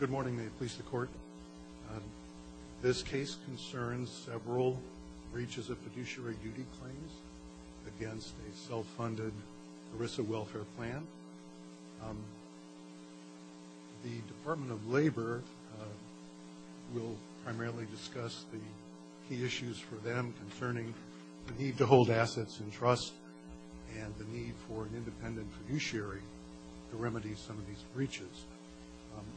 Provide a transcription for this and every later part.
Good morning. May it please the court. This case concerns several breaches of fiduciary duty claims against a self-funded ERISA welfare plan. The Department of Labor will primarily discuss the key issues for them concerning the need to hold assets in trust and the need for an independent fiduciary to remedy some of these breaches.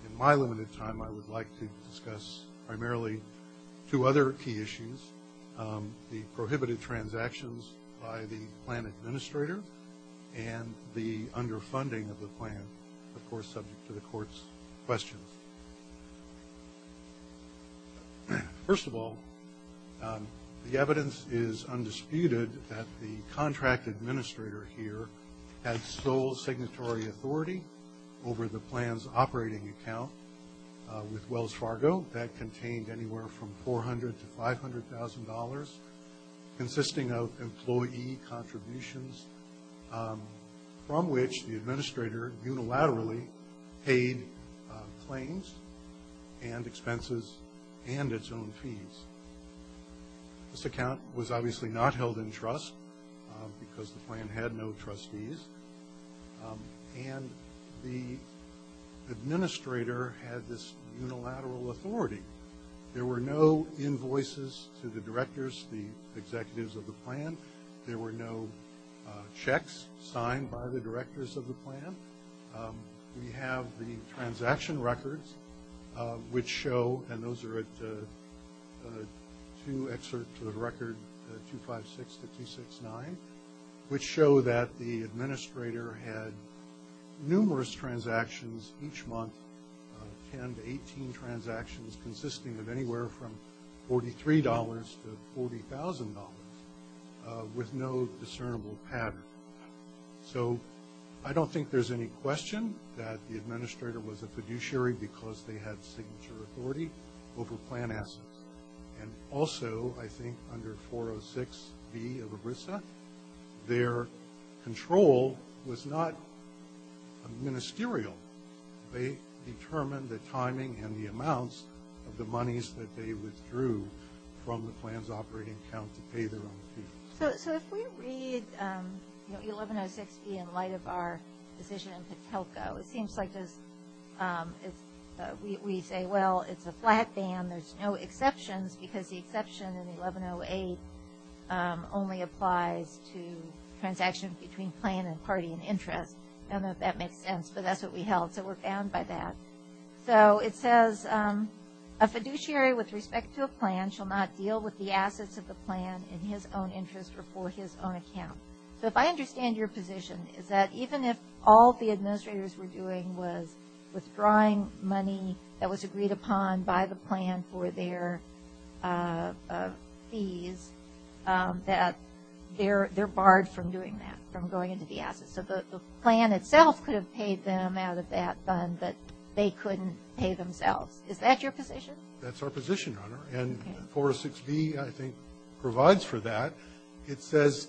In my limited time, I would like to discuss primarily two other key issues, the prohibited transactions by the plan administrator and the underfunding of the plan, of course subject to the court's questions. First of all, the evidence is undisputed that the contract administrator here had sole signatory authority over the plan's operating account with Wells Fargo that contained anywhere from $400,000 to $500,000, consisting of employee contributions from which the administrator unilaterally paid claims and expenses and its own fees. This account was obviously not held in trust because the plan had no trustees, and the administrator had this unilateral authority. There were no invoices to the directors, the executives of the plan. There were no checks signed by the directors of the plan. We have the transaction records which show, and those are at two excerpts to the record, 256 to 269, which show that the administrator had numerous transactions each month, 10 to 18 transactions consisting of anywhere from $43 to $40,000 with no discernible pattern. So I don't think there's any question that the administrator was a fiduciary because they had signature authority over plan assets. And also, I think under 406B of ERISA, their control was not ministerial. They determined the timing and the amounts of the monies that they withdrew from the plan's operating account to pay their own fees. So if we read 1106B in light of our decision in Patelco, it seems like we say, well, it's a flat ban. There's no exceptions because the exception in 1108 only applies to transactions between plan and party in interest. I don't know if that makes sense, but that's what we held, so we're bound by that. So it says, a fiduciary with respect to a plan shall not deal with the assets of the plan in his own interest or for his own account. So if I understand your position, is that even if all the administrators were doing was withdrawing money that was agreed upon by the plan for their fees, that they're barred from doing that, from going into the assets. So the plan itself could have paid them out of that fund, but they couldn't pay themselves. Is that your position? That's our position, Your Honor, and 406B, I think, provides for that. It says,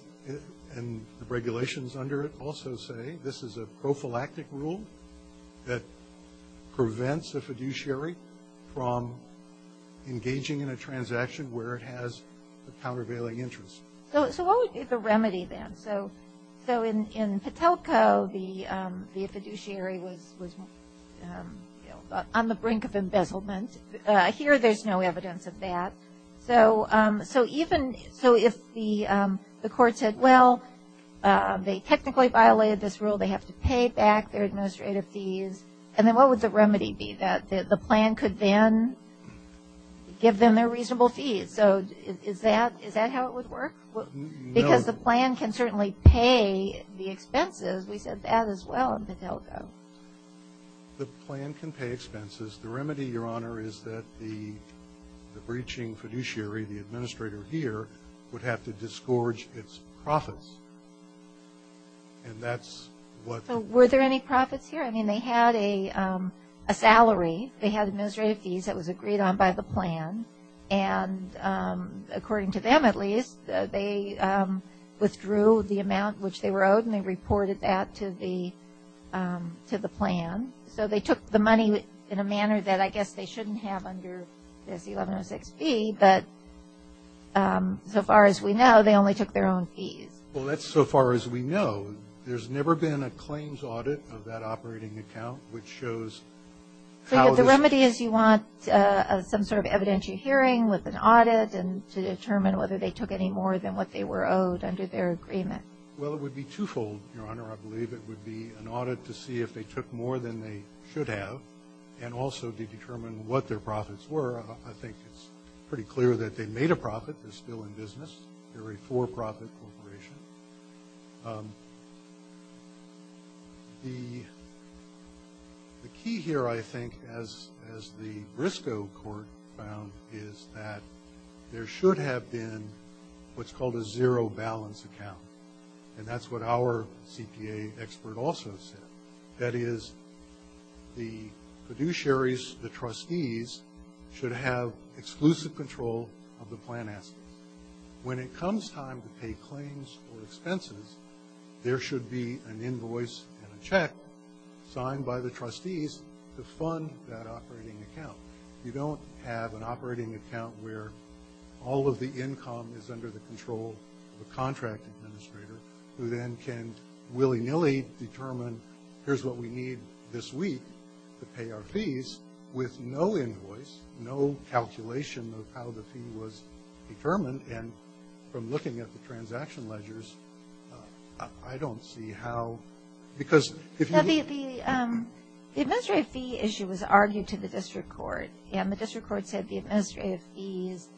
and the regulations under it also say this is a prophylactic rule that prevents a fiduciary from engaging in a transaction where it has a countervailing interest. So what would be the remedy then? So in Patelco, the fiduciary was on the brink of embezzlement. Here there's no evidence of that. So if the court said, well, they technically violated this rule, they have to pay back their administrative fees, and then what would the remedy be? The plan could then give them their reasonable fees. So is that how it would work? No. Because the plan can certainly pay the expenses. We said that as well in Patelco. The plan can pay expenses. The remedy, Your Honor, is that the breaching fiduciary, the administrator here, would have to disgorge its profits, and that's what the rule says. So were there any profits here? I mean, they had a salary. They had administrative fees that was agreed on by the plan, and according to them at least, they withdrew the amount which they were owed and they reported that to the plan. So they took the money in a manner that I guess they shouldn't have under this 1106B, but so far as we know, they only took their own fees. Well, that's so far as we know. There's never been a claims audit of that operating account, which shows how this. The remedy is you want some sort of evidentiary hearing with an audit and to determine whether they took any more than what they were owed under their agreement. Well, it would be twofold, Your Honor. I believe it would be an audit to see if they took more than they should have and also to determine what their profits were. I think it's pretty clear that they made a profit. They're still in business. They're a for-profit corporation. The key here, I think, as the Briscoe Court found, is that there should have been what's called a zero balance account, and that's what our CPA expert also said, that is the fiduciaries, the trustees, should have exclusive control of the plan assets. When it comes time to pay claims or expenses, there should be an invoice and a check signed by the trustees to fund that operating account. You don't have an operating account where all of the income is under the control of a contract administrator who then can willy-nilly determine, here's what we need this week to pay our fees with no invoice, no calculation of how the fee was determined. And from looking at the transaction ledgers, I don't see how – because if you – The administrative fee issue was argued to the district court, and the district court said the administrative fees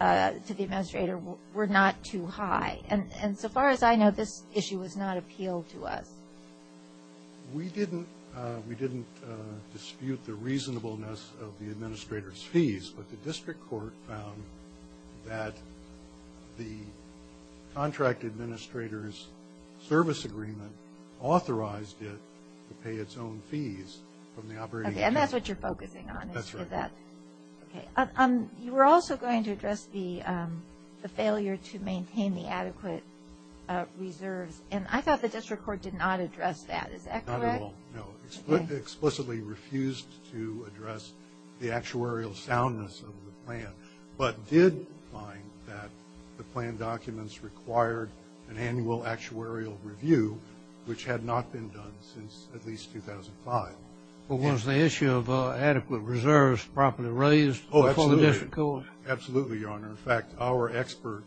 to the administrator were not too high. And so far as I know, this issue was not appealed to us. We didn't dispute the reasonableness of the administrator's fees, but the district court found that the contract administrator's service agreement authorized it to pay its own fees from the operating account. Okay, and that's what you're focusing on is for that. That's right. Okay. You were also going to address the failure to maintain the adequate reserves, and I thought the district court did not address that. Is that correct? Not at all, no. Explicitly refused to address the actuarial soundness of the plan, but did find that the plan documents required an annual actuarial review, which had not been done since at least 2005. Well, was the issue of adequate reserves properly raised before the district court? Oh, absolutely. Absolutely, Your Honor. In fact, our expert,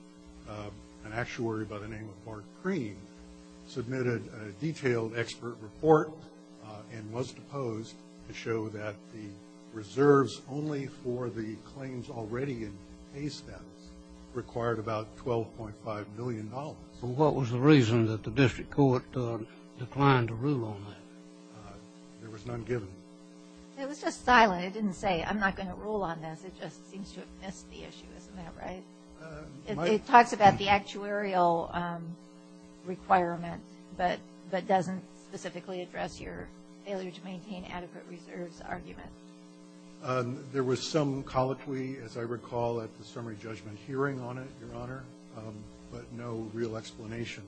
an actuary by the name of Mark Cream, submitted a detailed expert report and was deposed to show that the reserves only for the claims already in pay status required about $12.5 million. So what was the reason that the district court declined to rule on that? There was none given. It was just silent. It didn't say, I'm not going to rule on this. It just seems to have missed the issue. Isn't that right? It talks about the actuarial requirement, but doesn't specifically address your failure to maintain adequate reserves argument. There was some colloquy, as I recall, at the summary judgment hearing on it, Your Honor, but no real explanation.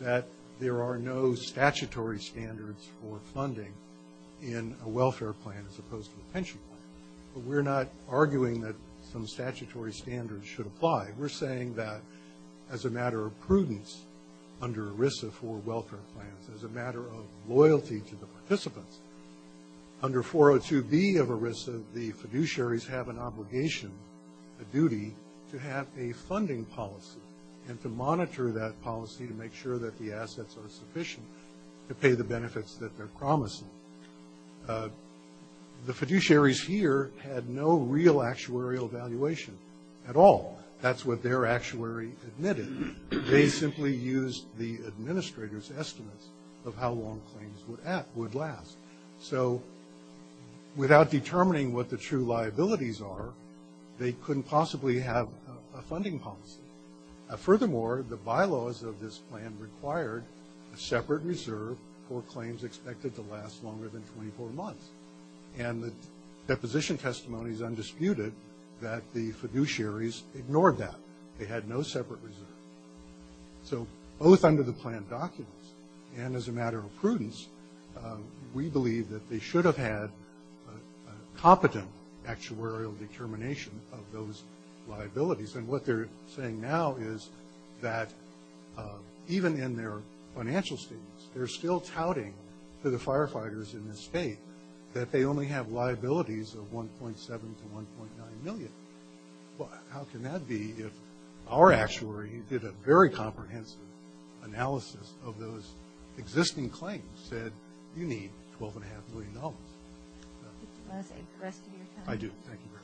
that there are no statutory standards for funding in a welfare plan as opposed to a pension plan. But we're not arguing that some statutory standards should apply. We're saying that as a matter of prudence under ERISA for welfare plans, as a matter of loyalty to the participants, under 402B of ERISA the fiduciaries have an obligation, a duty, to have a funding policy and to monitor that policy to make sure that the assets are sufficient to pay the benefits that they're promising. The fiduciaries here had no real actuarial evaluation at all. That's what their actuary admitted. They simply used the administrator's estimates of how long claims would last. So without determining what the true liabilities are, they couldn't possibly have a funding policy. Furthermore, the bylaws of this plan required a separate reserve for claims expected to last longer than 24 months. And the deposition testimony is undisputed that the fiduciaries ignored that. They had no separate reserve. So both under the plan documents and as a matter of prudence, we believe that they should have had competent actuarial determination of those liabilities. And what they're saying now is that even in their financial statements, they're still touting to the firefighters in this state that they only have liabilities of 1.7 to 1.9 million. Well, how can that be if our actuary did a very comprehensive analysis of those existing claims, said you need $12.5 million? Do you want to say the rest of your time? I do. Thank you very much.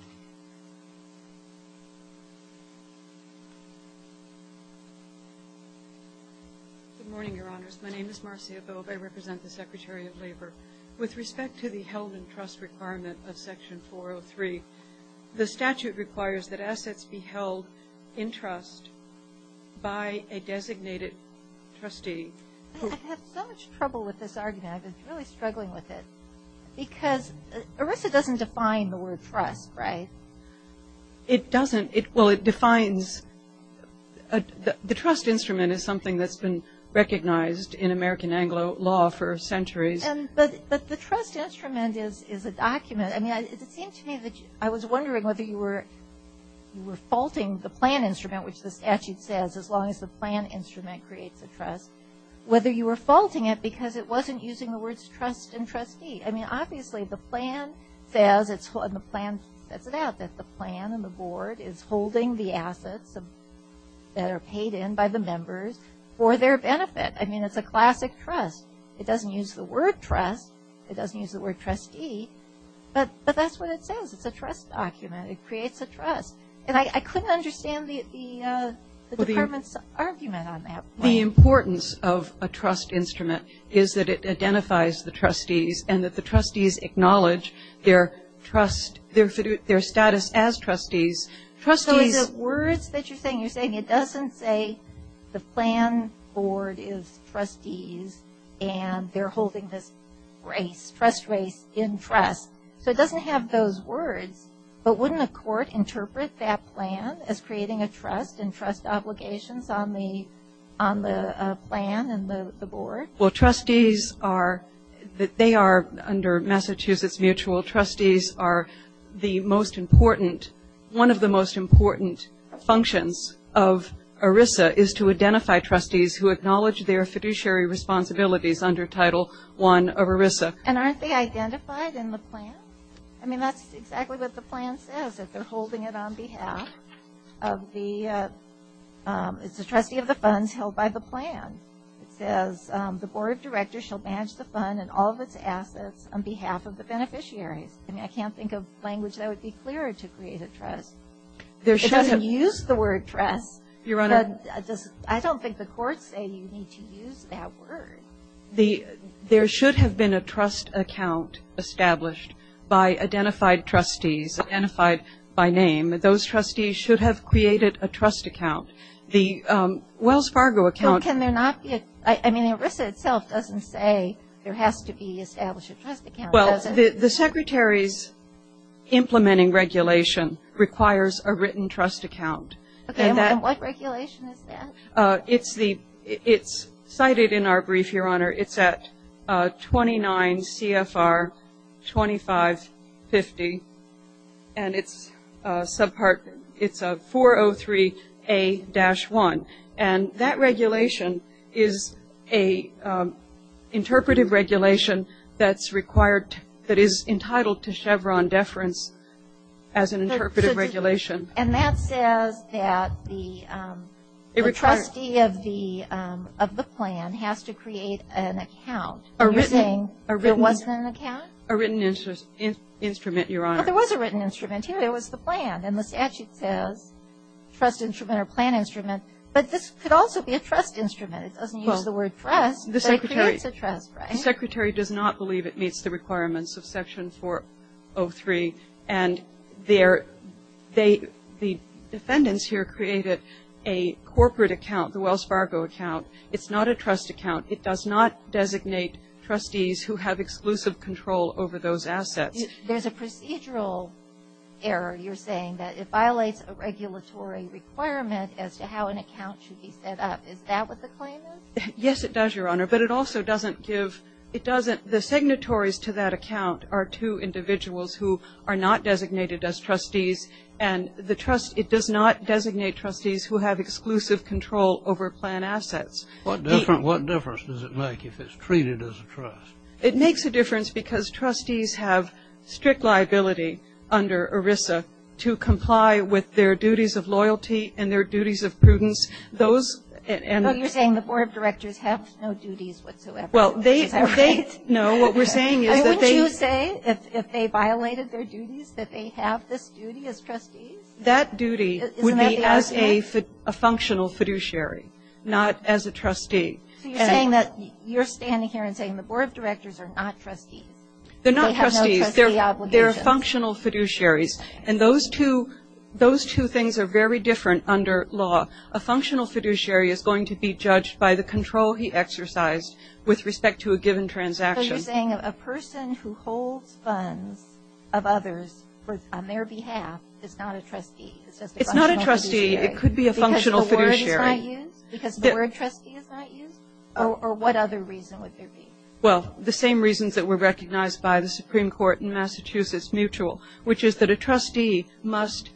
Good morning, Your Honors. My name is Marcia Bobb. I represent the Secretary of Labor. With respect to the held in trust requirement of Section 403, the statute requires that assets be held in trust by a designated trustee. I've had so much trouble with this argument. I've been really struggling with it because ERISA doesn't define the word trust, right? It doesn't. Well, it defines the trust instrument is something that's been recognized in American Anglo law for centuries. But the trust instrument is a document. I mean, it seemed to me that I was wondering whether you were faulting the plan instrument, which the statute says as long as the plan instrument creates a trust, whether you were faulting it because it wasn't using the words trust and trustee. I mean, obviously, the plan says it's – and the plan sets it out that the plan and the board is holding the assets that are paid in by the members for their benefit. I mean, it's a classic trust. It doesn't use the word trust. It doesn't use the word trustee. But that's what it says. It's a trust document. It creates a trust. And I couldn't understand the department's argument on that point. The importance of a trust instrument is that it identifies the trustees and that the trustees acknowledge their status as trustees. So is it words that you're saying? You're saying it doesn't say the plan board is trustees and they're holding this trust race in trust. So it doesn't have those words. But wouldn't a court interpret that plan as creating a trust and trust obligations on the plan and the board? Well, trustees are – they are, under Massachusetts Mutual, trustees are the most important. One of the most important functions of ERISA is to identify trustees who acknowledge their fiduciary responsibilities under Title I of ERISA. And aren't they identified in the plan? I mean, that's exactly what the plan says, that they're holding it on behalf of the – it's the trustee of the funds held by the plan. It says the board of directors shall manage the fund and all of its assets on behalf of the beneficiaries. I mean, I can't think of language that would be clearer to create a trust. It doesn't use the word trust. Your Honor. I don't think the courts say you need to use that word. There should have been a trust account established by identified trustees, identified by name. Those trustees should have created a trust account. The Wells Fargo account. Well, can there not be – I mean, ERISA itself doesn't say there has to be established a trust account, does it? The Secretary's implementing regulation requires a written trust account. Okay. And what regulation is that? It's the – it's cited in our brief, Your Honor. It's at 29 CFR 2550, and it's a subpart – it's a 403A-1. And that regulation is an interpretive regulation that's required – that is entitled to Chevron deference as an interpretive regulation. And that says that the trustee of the plan has to create an account using – A written – It wasn't an account? A written instrument, Your Honor. But there was a written instrument here. It was the plan. And the statute says trust instrument or plan instrument. But this could also be a trust instrument. It doesn't use the word trust, but it creates a trust, right? The Secretary does not believe it meets the requirements of Section 403, and the defendants here created a corporate account, the Wells Fargo account. It's not a trust account. It does not designate trustees who have exclusive control over those assets. There's a procedural error, you're saying, that it violates a regulatory requirement as to how an account should be set up. Is that what the claim is? Yes, it does, Your Honor. But it also doesn't give – it doesn't – the signatories to that account are two individuals who are not designated as trustees, and the trust – it does not designate trustees who have exclusive control over plan assets. What difference does it make if it's treated as a trust? It makes a difference because trustees have strict liability under ERISA to comply with their duties of loyalty and their duties of prudence. Those – But you're saying the board of directors have no duties whatsoever. Well, they – Is that right? No. What we're saying is that they – Wouldn't you say if they violated their duties that they have this duty as trustees? That duty would be as a functional fiduciary, not as a trustee. So you're saying that – you're standing here and saying the board of directors are not trustees. They're not trustees. They have no trustee obligations. They're functional fiduciaries. And those two things are very different under law. A functional fiduciary is going to be judged by the control he exercised with respect to a given transaction. So you're saying a person who holds funds of others on their behalf is not a trustee. It's just a functional fiduciary. It's not a trustee. It could be a functional fiduciary. Because the word trustee is not used? Or what other reason would there be? Well, the same reasons that were recognized by the Supreme Court in Massachusetts mutual, which is that a trustee must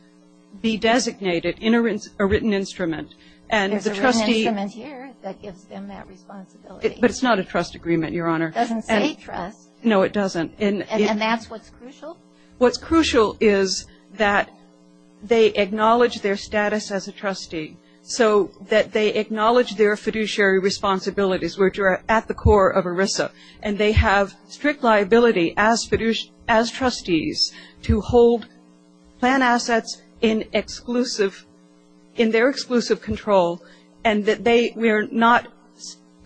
be designated in a written instrument. And the trustee – There's a written instrument here that gives them that responsibility. But it's not a trust agreement, Your Honor. It doesn't say trust. No, it doesn't. And that's what's crucial? What's crucial is that they acknowledge their status as a trustee so that they acknowledge their fiduciary responsibilities, which are at the core of ERISA. And they have strict liability as trustees to hold plan assets in their exclusive control and that they are not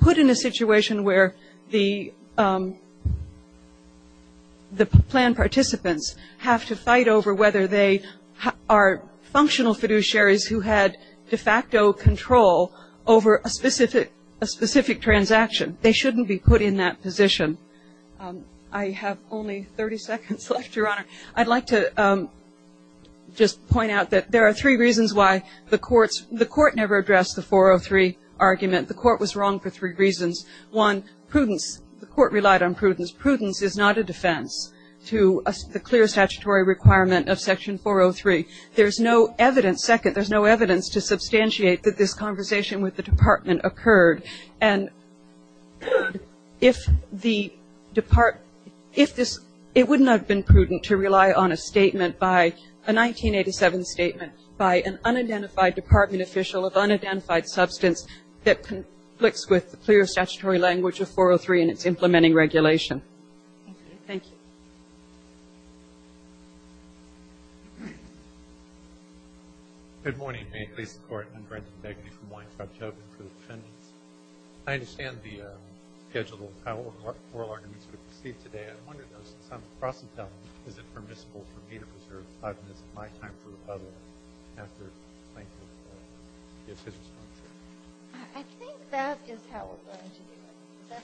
put in a situation where the plan participants have to fight over whether they are functional fiduciaries who had de facto control over a specific transaction. They shouldn't be put in that position. I have only 30 seconds left, Your Honor. I'd like to just point out that there are three reasons why the courts – the court never addressed the 403 argument. The court was wrong for three reasons. One, prudence. The court relied on prudence. Prudence is not a defense to the clear statutory requirement of Section 403. There's no evidence – second, there's no evidence to substantiate that this conversation with the department occurred. And if the – it wouldn't have been prudent to rely on a statement by – a 1987 statement by an unidentified department official of unidentified substance that conflicts with the clear statutory language of 403 and its implementing regulation. Thank you. Thank you. Good morning. May it please the Court. I'm Brendan Begley from Weintraub Chauvin for the defendants. I understand the schedule and how oral arguments were received today. I wonder, though, since I'm crossing town, is it permissible for me to preserve the time and is it my time for the public after Plankton gives his response? I think that is how we're going to do it.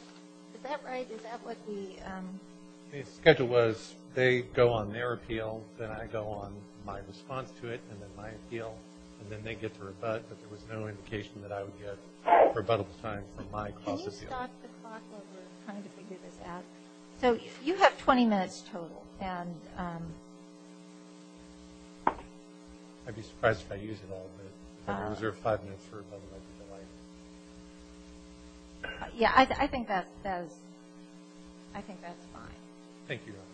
Is that right? Is that what we – The schedule was they go on their appeal, then I go on my response to it and then my appeal, and then they get to rebut, but there was no indication that I would get rebuttal time for my cross-appeal. Can you stop the clock while we're trying to figure this out? So you have 20 minutes total, and – I'd be surprised if I used it all, but I'm going to reserve five minutes for another one. Yeah, I think that's fine. Thank you, Your Honor.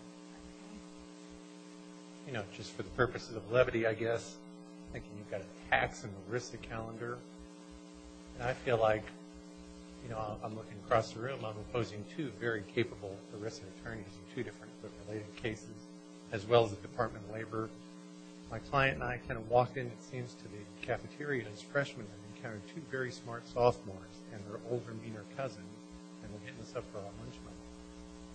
You know, just for the purposes of levity, I guess, I'm thinking you've got a tax and ERISA calendar, and I feel like, you know, I'm looking across the room, I'm opposing two very capable ERISA attorneys in two different related cases, as well as the Department of Labor. My client and I kind of walked in, it seems, to the cafeteria as freshmen and encountered two very smart sophomores and their older, meaner cousin, and we're getting this up for our lunch money.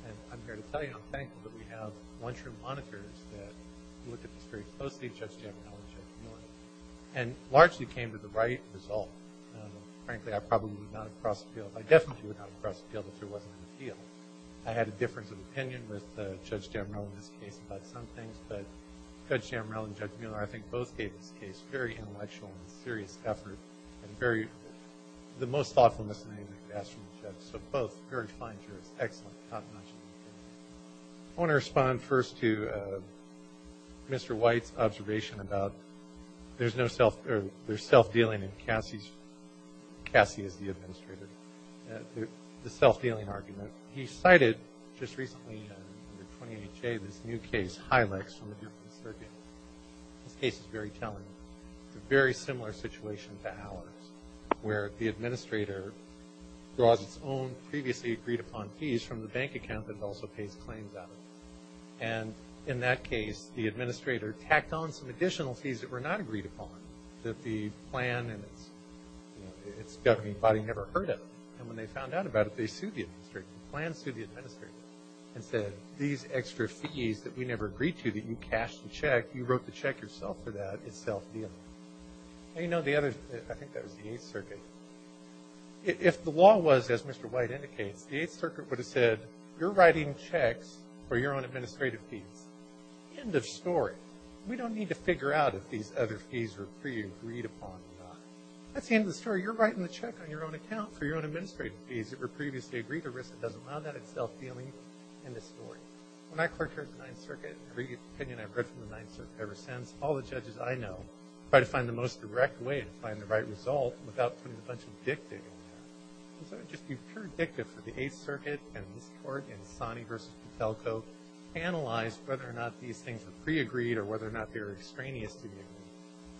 And I'm here to tell you I'm thankful that we have lunchroom monitors that look at this very closely, Judge Jamerrill and Judge Mueller, and largely came to the right result. Frankly, I probably would not have crossed the field. I definitely would not have crossed the field if there wasn't an appeal. I had a difference of opinion with Judge Jamerrill in this case about some things, but Judge Jamerrill and Judge Mueller, I think, both gave this case very intellectual and serious effort and very – the most thoughtful misdemeanor I've ever asked from a judge. So both very fine jurors, excellent. Not much of an opinion. I want to respond first to Mr. White's observation about there's no self – there's self-dealing in Cassie's – Cassie is the administrator – the self-dealing argument. He cited just recently under 20HA this new case, Hylex, from the different circuits. This case is very telling. It's a very similar situation to ours, where the administrator draws its own previously agreed-upon fees from the bank account that it also pays claims out of. And in that case, the administrator tacked on some additional fees that were not agreed upon, that the plan and its governing body never heard of. And when they found out about it, they sued the administrator. The plan sued the administrator and said, that we never agreed to that you cashed the check. You wrote the check yourself for that. It's self-dealing. Now, you know, the other – I think that was the Eighth Circuit. If the law was, as Mr. White indicates, the Eighth Circuit would have said, you're writing checks for your own administrative fees. End of story. We don't need to figure out if these other fees were pre-agreed upon or not. That's the end of the story. You're writing the check on your own account for your own administrative fees that doesn't allow that. It's self-dealing. End of story. When I clerked here at the Ninth Circuit, every opinion I've read from the Ninth Circuit ever since, all the judges I know try to find the most direct way to find the right result without putting a bunch of dick dig in there. And so it would just be pure addictive for the Eighth Circuit and this Court and Sani v. Patelco to analyze whether or not these things were pre-agreed or whether or not they were extraneous to the agreement.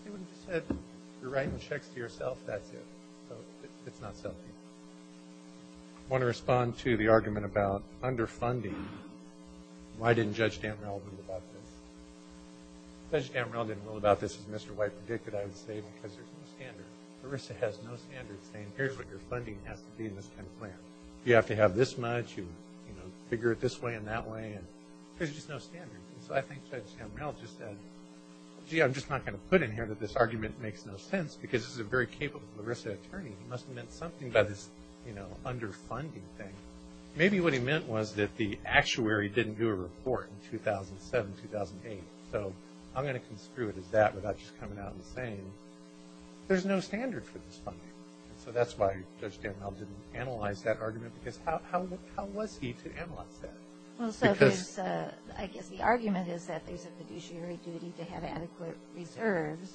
They would have just said, you're writing checks to yourself, that's it. So it's not self-dealing. I want to respond to the argument about underfunding. Why didn't Judge Dantrell rule about this? Judge Dantrell didn't rule about this as Mr. White predicted, I would say, because there's no standard. Larissa has no standard saying here's what your funding has to be in this kind of plan. You have to have this much, you figure it this way and that way. There's just no standard. And so I think Judge Dantrell just said, gee, I'm just not going to put in here that this argument makes no sense because this is a very capable Larissa attorney. He must have meant something by this, you know, underfunding thing. Maybe what he meant was that the actuary didn't do a report in 2007, 2008. So I'm going to construe it as that without just coming out and saying, there's no standard for this funding. So that's why Judge Dantrell didn't analyze that argument, because how was he to analyze that? Well, so I guess the argument is that there's a fiduciary duty to have adequate reserves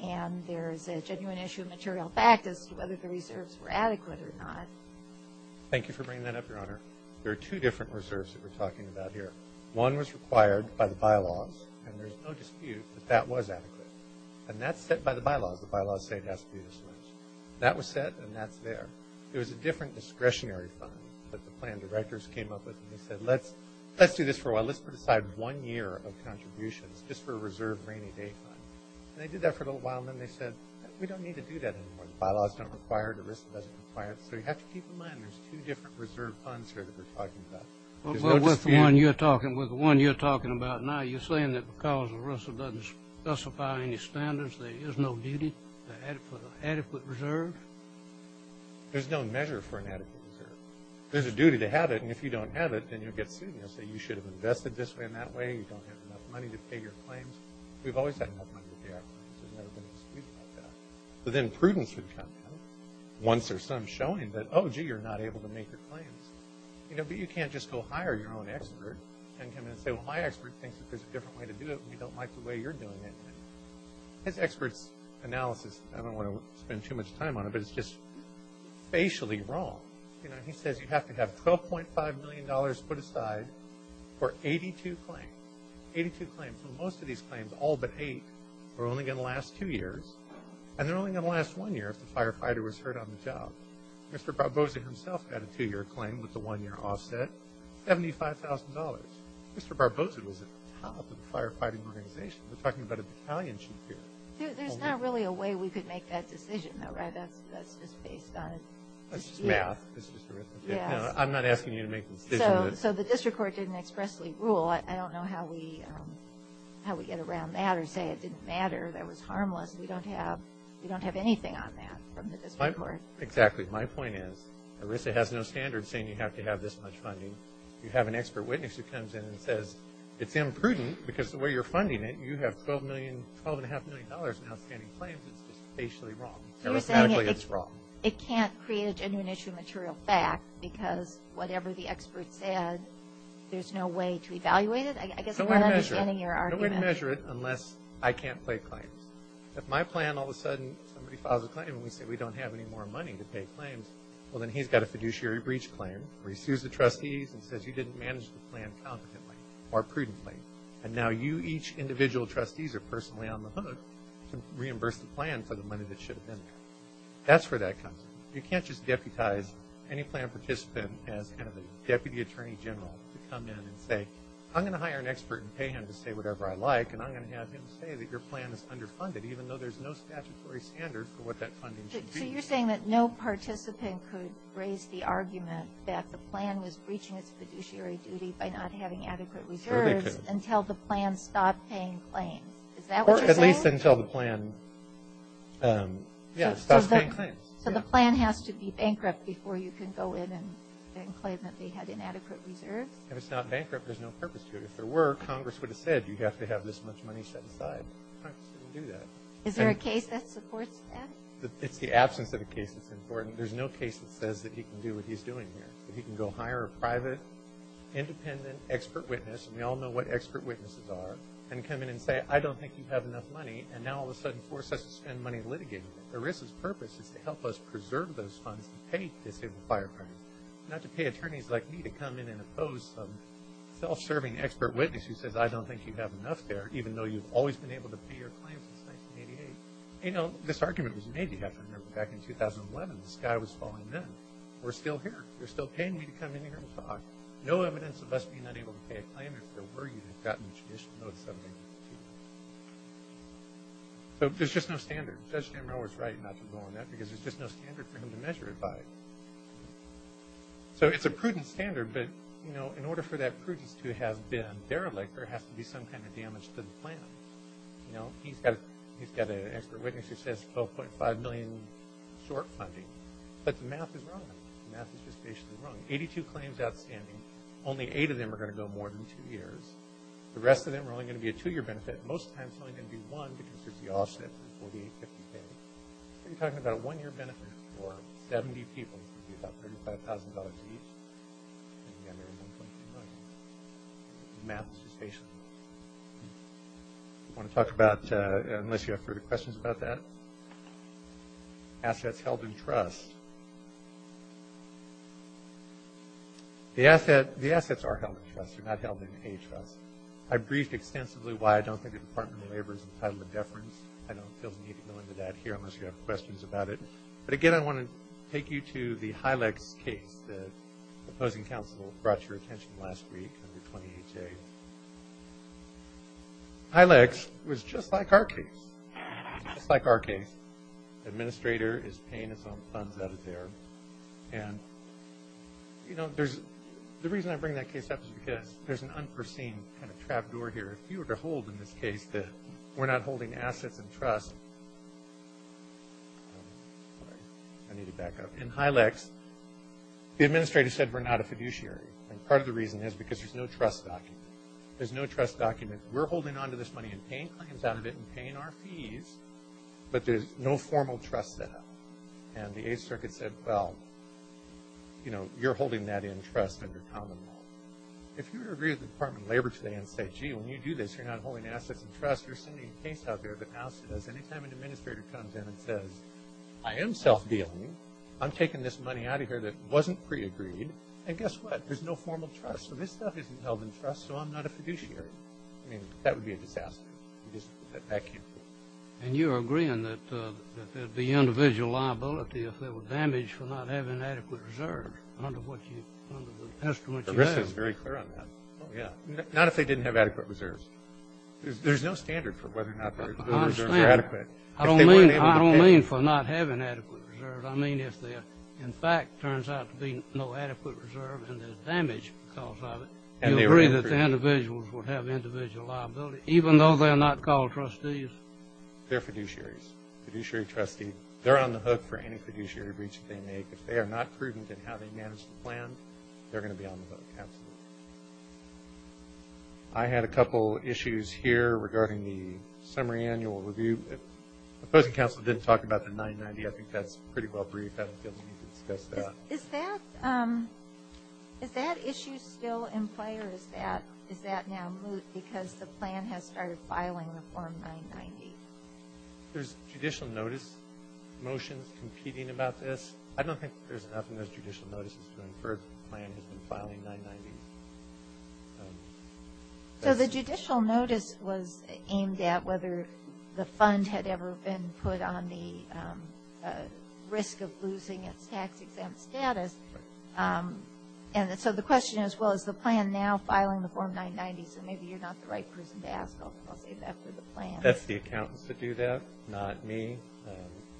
and there's a genuine issue of material fact as to whether the reserves were adequate or not. Thank you for bringing that up, Your Honor. There are two different reserves that we're talking about here. One was required by the bylaws, and there's no dispute that that was adequate. And that's set by the bylaws. The bylaws say it has to be this much. That was set and that's there. It was a different discretionary fund that the plan directors came up with and they said, let's do this for a while. Let's put aside one year of contributions just for a reserve rainy day fund. And they did that for a little while, and then they said, we don't need to do that anymore. The bylaws don't require it. ERISA doesn't require it. So you have to keep in mind there's two different reserve funds here that we're talking about. There's no dispute. Well, with the one you're talking about now, you're saying that because ERISA doesn't specify any standards, there is no duty for the adequate reserve? There's no measure for an adequate reserve. There's a duty to have it, and if you don't have it, then you'll get sued and they'll say you should have invested this way and that way. You don't have enough money to pay your claims. We've always had enough money to pay our claims. There's never been a dispute about that. But then prudence would come once there's some showing that, oh, gee, you're not able to make your claims. But you can't just go hire your own expert and come in and say, well, my expert thinks that there's a different way to do it and we don't like the way you're doing it. His expert's analysis, I don't want to spend too much time on it, but it's just facially wrong. You know, he says you have to have $12.5 million put aside for 82 claims. Eighty-two claims. Most of these claims, all but eight, are only going to last two years, and they're only going to last one year if the firefighter was hurt on the job. Mr. Barbosa himself had a two-year claim with a one-year offset, $75,000. Mr. Barbosa was at the top of the firefighting organization. We're talking about a battalion chief here. There's not really a way we could make that decision, though, right? That's just based on dispute. That's just math. I'm not asking you to make the decision. So the district court didn't expressly rule. I don't know how we get around that or say it didn't matter, that it was harmless. We don't have anything on that from the district court. Exactly. My point is, ERISA has no standard saying you have to have this much funding. You have an expert witness who comes in and says, it's imprudent because the way you're funding it, you have $12.5 million in outstanding claims. It's just facially wrong. It's wrong. It can't create a genuine issue of material fact because whatever the expert said, there's no way to evaluate it. I guess I'm not understanding your argument. No one would measure it unless I can't play claims. If my plan, all of a sudden, somebody files a claim and we say we don't have any more money to pay claims, well, then he's got a fiduciary breach claim where he sues the trustees and says you didn't manage the plan competently or prudently, and now you each individual trustees are personally on the hook to reimburse the plan for the money that should have been there. That's where that comes in. You can't just deputize any plan participant as kind of a deputy attorney general to come in and say, I'm going to hire an expert and pay him to say whatever I like, and I'm going to have him say that your plan is underfunded, even though there's no statutory standard for what that funding should be. So you're saying that no participant could raise the argument that the plan was breaching its fiduciary duty by not having adequate reserves until the plan stopped paying claims. Is that what you're saying? At least until the plan stops paying claims. So the plan has to be bankrupt before you can go in and claim that they had inadequate reserves? If it's not bankrupt, there's no purpose to it. If there were, Congress would have said you have to have this much money set aside. Congress didn't do that. Is there a case that supports that? It's the absence of a case that's important. There's no case that says that he can do what he's doing here, that he can go hire a private, independent expert witness, and we all know what expert witnesses are, and come in and say, I don't think you have enough money, and now all of a sudden force us to spend money litigating it. ERISA's purpose is to help us preserve those funds to pay disabled firefighters, not to pay attorneys like me to come in and oppose some self-serving expert witness who says, I don't think you have enough there, even though you've always been able to pay your claims since 1988. You know, this argument was made, you have to remember, back in 2011. The sky was falling then. We're still here. They're still paying me to come in here and talk. No evidence of us being unable to pay a claim even if there were, you'd have gotten a judicial notice of it. So there's just no standard. Judge M. Rowe is right not to go on that, because there's just no standard for him to measure it by. So it's a prudent standard, but, you know, in order for that prudence to have been derelict, there has to be some kind of damage to the plan. You know, he's got an expert witness who says $12.5 million short funding, but the math is wrong. The math is just basically wrong. Eighty-two claims outstanding. Only eight of them are going to go more than two years. The rest of them are only going to be a two-year benefit. Most of the time, it's only going to be one, because there's the offset for the $48.50 pay. You're talking about a one-year benefit for 70 people. It's going to be about $35,000 each. And again, there's $12.5 million. The math is just basically wrong. I want to talk about, unless you have further questions about that, assets held in trust. The assets are held in trust. They're not held in a trust. I've briefed extensively why I don't think the Department of Labor is entitled to deference. I don't feel the need to go into that here unless you have questions about it. But, again, I want to take you to the Hylex case. The opposing counsel brought to your attention last week under 28A. Hylex was just like our case. Just like our case. Administrator is paying his own funds out of there. And, you know, the reason I bring that case up is because there's an unforeseen kind of trapdoor here. If you were to hold in this case that we're not holding assets in trust, sorry, I need to back up. In Hylex, the administrator said we're not a fiduciary. And part of the reason is because there's no trust document. There's no trust document. We're holding onto this money and paying claims out of it and paying our And the Eighth Circuit said, well, you know, you're holding that in trust under common law. If you were to agree with the Department of Labor today and say, gee, when you do this, you're not holding assets in trust, you're sending a case out there that now says any time an administrator comes in and says, I am self-dealing, I'm taking this money out of here that wasn't pre-agreed, and guess what? There's no formal trust. So this stuff isn't held in trust, so I'm not a fiduciary. I mean, that would be a disaster. That can't be. And you're agreeing that there'd be individual liability if there were damage for not having adequate reserves under the estimate you have. The rest is very clear on that. Oh, yeah. Not if they didn't have adequate reserves. There's no standard for whether or not those reserves are adequate. I don't mean for not having adequate reserves. I mean if there, in fact, turns out to be no adequate reserve and there's damage because of it, you agree that the individuals would have individual liability, even though they're not called trustees? They're fiduciaries, fiduciary trustees. They're on the hook for any fiduciary breach that they make. If they are not prudent in how they manage the plan, they're going to be on the hook. Absolutely. I had a couple issues here regarding the summary annual review. The opposing counsel didn't talk about the 990. I think that's pretty well briefed. I don't feel the need to discuss that. Is that issue still in play, or is that now moot because the plan has started filing the Form 990? There's judicial notice motions competing about this. I don't think there's enough in those judicial notices to infer the plan has been filing 990. So the judicial notice was aimed at whether the fund had ever been put on the risk of losing its tax-exempt status. And so the question is, well, is the plan now filing the Form 990? So maybe you're not the right person to ask. I'll save that for the plan. That's the accountants that do that, not me.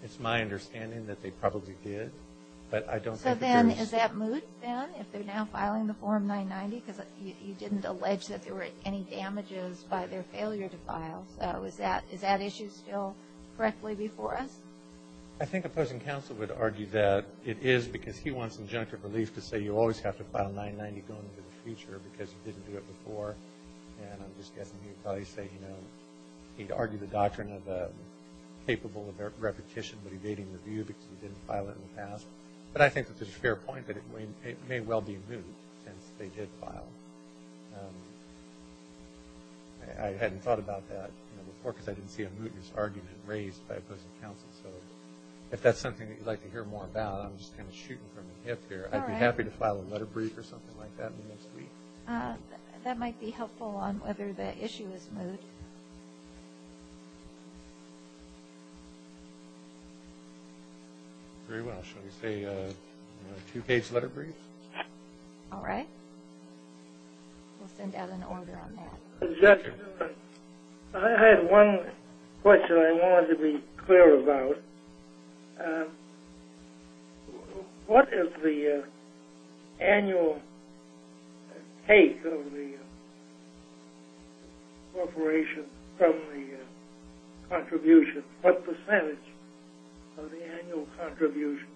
It's my understanding that they probably did. So then is that moot, then, if they're now filing the Form 990? Because you didn't allege that there were any damages by their failure to file. So is that issue still correctly before us? I think opposing counsel would argue that it is because he wants injunctive relief to say you always have to file 990 going into the future because you didn't do it before. And I'm just guessing he would probably say, you know, he'd argue the doctrine of capable of repetition but evading review because he didn't file it in the past. But I think it's a fair point that it may well be moot since they did file. I hadn't thought about that before because I didn't see a mootness argument raised by opposing counsel. So if that's something that you'd like to hear more about, I'm just kind of shooting from the hip here. I'd be happy to file a letter brief or something like that in the next week. That might be helpful on whether the issue is moot. Very well. Shall we say a two-page letter brief? All right. We'll send out an order on that. Judge, I had one question I wanted to be clear about. What is the annual take of the corporation from the contributions? What percentage of the annual contributions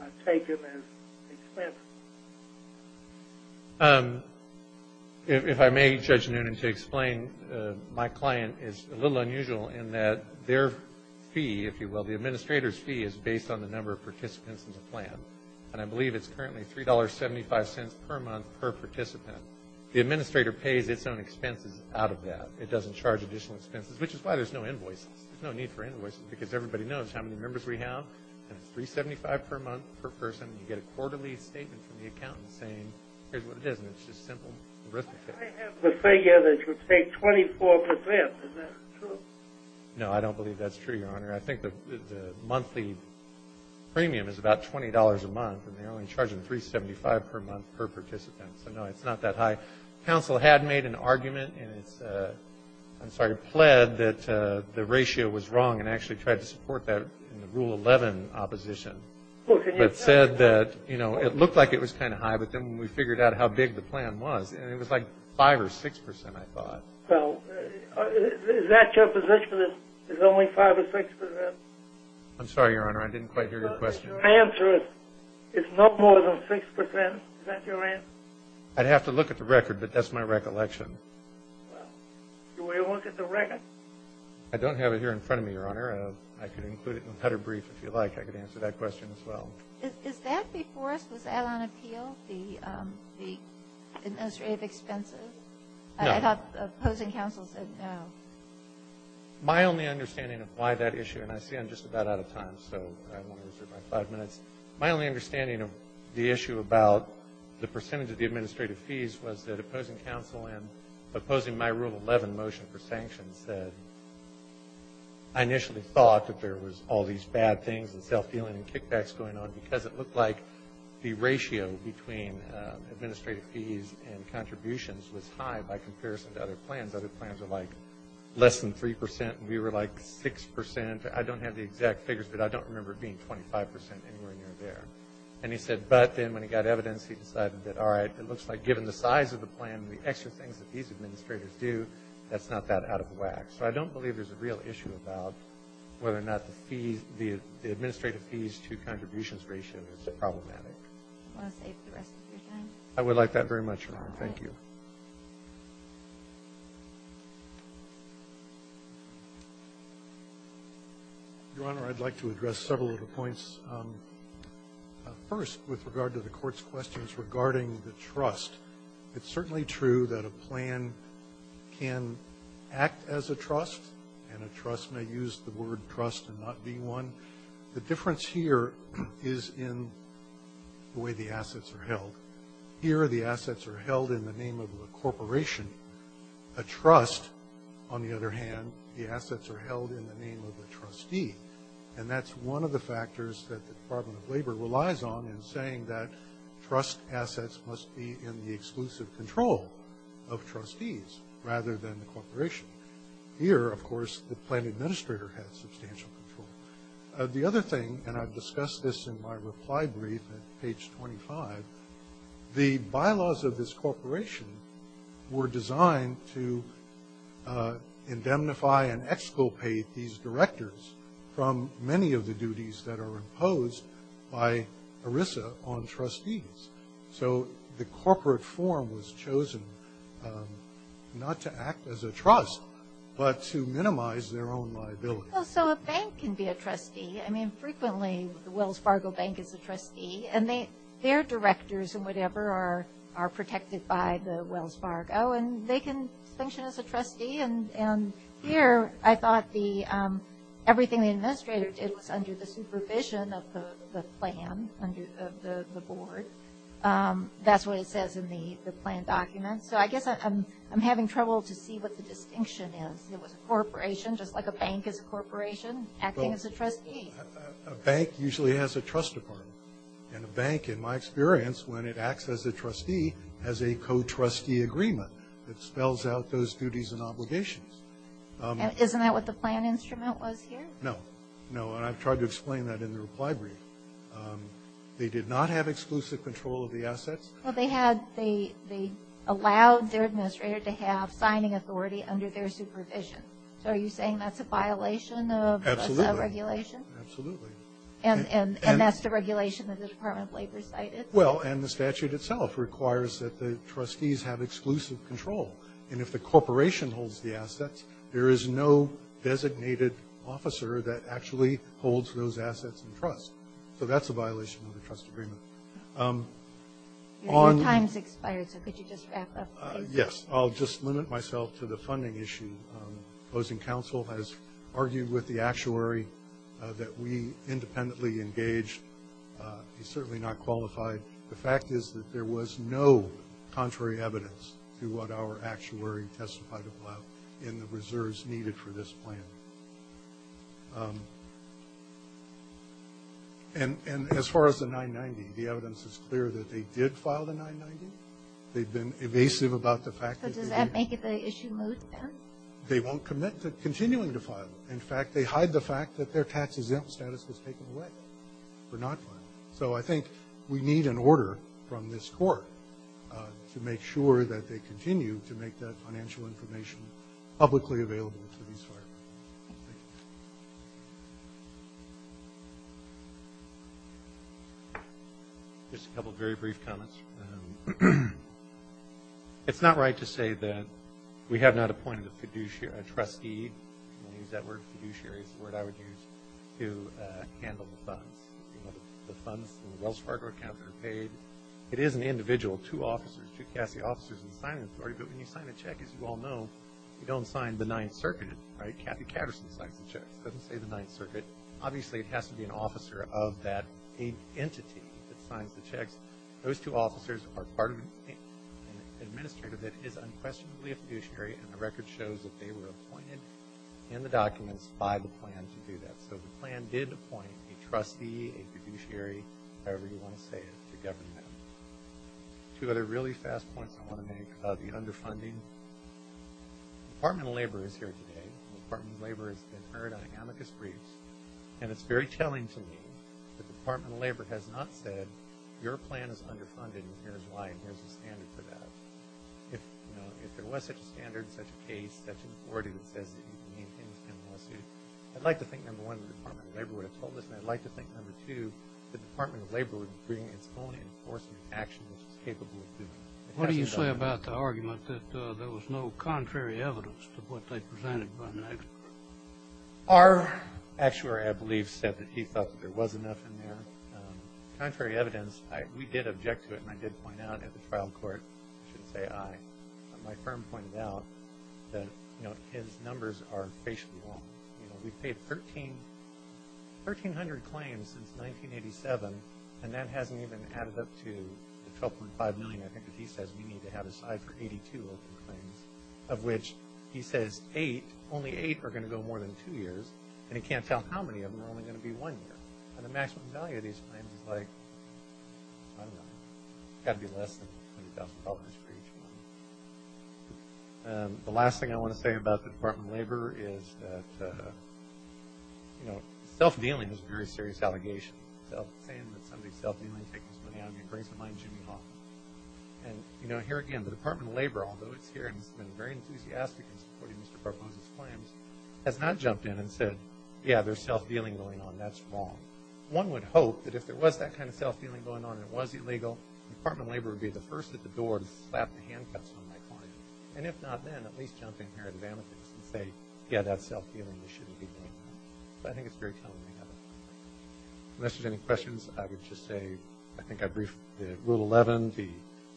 are taken as expenses? If I may, Judge Noonan, to explain, my client is a little unusual in that their fee, if you will, the administrator's fee is based on the number of participants in the plan. And I believe it's currently $3.75 per month per participant. The administrator pays its own expenses out of that. It doesn't charge additional expenses, which is why there's no invoices. There's no need for invoices because everybody knows how many members we have. And it's $3.75 per month per person. You get a quarterly statement from the accountant saying here's what it is. And it's just simple arithmetic. I have the figure that you take 24%. Is that true? No, I don't believe that's true, Your Honor. I think the monthly premium is about $20 a month. And they're only charging $3.75 per month per participant. So, no, it's not that high. Counsel had made an argument and it's, I'm sorry, pled that the ratio was wrong and actually tried to support that in the Rule 11 opposition. But said that, you know, it looked like it was kind of high. But then when we figured out how big the plan was, it was like 5% or 6%, I thought. Well, is that your position that it's only 5% or 6%? I'm sorry, Your Honor, I didn't quite hear your question. Your answer is no more than 6%. Is that your answer? I'd have to look at the record, but that's my recollection. Well, do you want to look at the record? I don't have it here in front of me, Your Honor. I could include it in a letter brief if you like. I could answer that question as well. Is that before us? Was that on appeal, the administrative expenses? No. I thought opposing counsel said no. My only understanding of why that issue, and I see I'm just about out of time, so I want to reserve my five minutes. My only understanding of the issue about the percentage of the administrative fees was that opposing counsel and opposing my Rule 11 motion for sanctions said I initially thought that there was all these bad things and self-dealing and kickbacks going on because it looked like the ratio between administrative fees and contributions was high by comparison to other plans. Other plans were like less than 3%, and we were like 6%. I don't have the exact figures, but I don't remember it being 25% anywhere near there. And he said, but then when he got evidence, he decided that, all right, it looks like given the size of the plan and the extra things that these administrators do, that's not that out of whack. So I don't believe there's a real issue about whether or not the administrative fees-to-contributions ratio is problematic. Do you want to save the rest of your time? I would like that very much, Your Honor. Thank you. Your Honor, I'd like to address several of the points. First, with regard to the Court's questions regarding the trust, it's certainly true that a plan can act as a trust, and a trust may use the word trust and not be one. The difference here is in the way the assets are held. Here, the assets are held in the name of a corporation. A trust, on the other hand, the assets are held in the name of a trustee, and that's one of the factors that the Department of Labor relies on in saying that trust assets must be in the exclusive control of trustees rather than the corporation. Here, of course, the plan administrator has substantial control. The other thing, and I've discussed this in my reply brief at page 25, the bylaws of this corporation were designed to indemnify and exculpate these directors from many of the duties that are imposed by ERISA on trustees. So the corporate form was chosen not to act as a trust but to minimize their own liability. Well, so a bank can be a trustee. I mean, frequently the Wells Fargo Bank is a trustee, and their directors and whatever are protected by the Wells Fargo, and they can function as a trustee, and here I thought everything the administrator did was under the supervision of the plan, under the board. That's what it says in the plan document. So I guess I'm having trouble to see what the distinction is. It was a corporation, just like a bank is a corporation, acting as a trustee. A bank usually has a trust department, and a bank, in my experience, when it acts as a trustee, has a co-trustee agreement that spells out those duties and obligations. Isn't that what the plan instrument was here? No. No, and I've tried to explain that in the reply brief. They did not have exclusive control of the assets. Well, they allowed their administrator to have signing authority under their supervision. So are you saying that's a violation of regulation? Absolutely. And that's the regulation that the Department of Labor cited? Well, and the statute itself requires that the trustees have exclusive control, and if the corporation holds the assets, there is no designated officer that actually holds those assets in trust. So that's a violation of the trust agreement. Your time's expired, so could you just wrap up? Yes, I'll just limit myself to the funding issue. Opposing counsel has argued with the actuary that we independently engaged. He's certainly not qualified. The fact is that there was no contrary evidence to what our actuary testified about in the reserves needed for this plan. And as far as the 990, the evidence is clear that they did file the 990. They've been evasive about the fact that they did. They won't commit to continuing to file it. In fact, they hide the fact that their tax exempt status was taken away for not filing it. So I think we need an order from this court to make sure that they continue to make that financial information publicly available to these firemen. Just a couple of very brief comments. First, it's not right to say that we have not appointed a fiduciary, a trustee. You can use that word, fiduciary, it's the word I would use to handle the funds. The funds in the Wells Fargo account are paid. It is an individual, two officers, two CASE officers in the signing authority, but when you sign a check, as you all know, you don't sign the Ninth Circuit. Kathy Katterson signs the checks. It doesn't say the Ninth Circuit. Those two officers are part of an administrative that is unquestionably a fiduciary, and the record shows that they were appointed in the documents by the plan to do that. So the plan did appoint a trustee, a fiduciary, however you want to say it, to govern them. Two other really fast points I want to make about the underfunding. The Department of Labor is here today. The Department of Labor has been heard on amicus briefs, and it's very telling to me that the Department of Labor has not said, your plan is underfunded and here's why, and here's the standard for that. If there was such a standard, such a case, such an authority that says that you can maintain a lawsuit, I'd like to think, number one, the Department of Labor would have told us, and I'd like to think, number two, the Department of Labor would bring its own enforcement action, which it's capable of doing. What do you say about the argument that there was no contrary evidence to what they presented? Our actuary, I believe, said that he thought that there was enough in there. Contrary evidence, we did object to it, and I did point out at the trial court, I shouldn't say I, but my firm pointed out that, you know, his numbers are facially wrong. You know, we've paid 1,300 claims since 1987, and that hasn't even added up to the $12.5 million, I think, that he says we need to have aside for 82 open claims, of which he says eight, only eight are going to go more than two years, and he can't tell how many of them are only going to be one year. And the maximum value of these claims is like, I don't know, it's got to be less than $20,000 for each one. The last thing I want to say about the Department of Labor is that, you know, self-dealing is a very serious allegation. Saying that somebody's self-dealing is taking this money out of me brings to mind Jimmy Hoffman. And, you know, here again, the Department of Labor, although it's here and it's been very enthusiastic in supporting Mr. Barbosa's claims, has not jumped in and said, yeah, there's self-dealing going on, that's wrong. One would hope that if there was that kind of self-dealing going on and it was illegal, the Department of Labor would be the first at the door to slap the handcuffs on my client, and if not then, at least jump in here at the benefits and say, yeah, that's self-dealing, I think it's very telling. Unless there's any questions, I would just say, I think I'd brief the Rule 11, the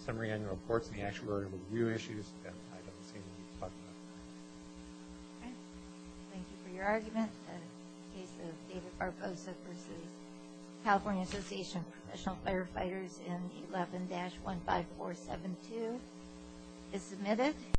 Summary Annual Reports, and the Actuarial Review Issues, and I don't see any need to talk about that. Okay. Thank you for your argument. The case of David Barbosa v. California Association of Professional Firefighters in 11-15472 is submitted.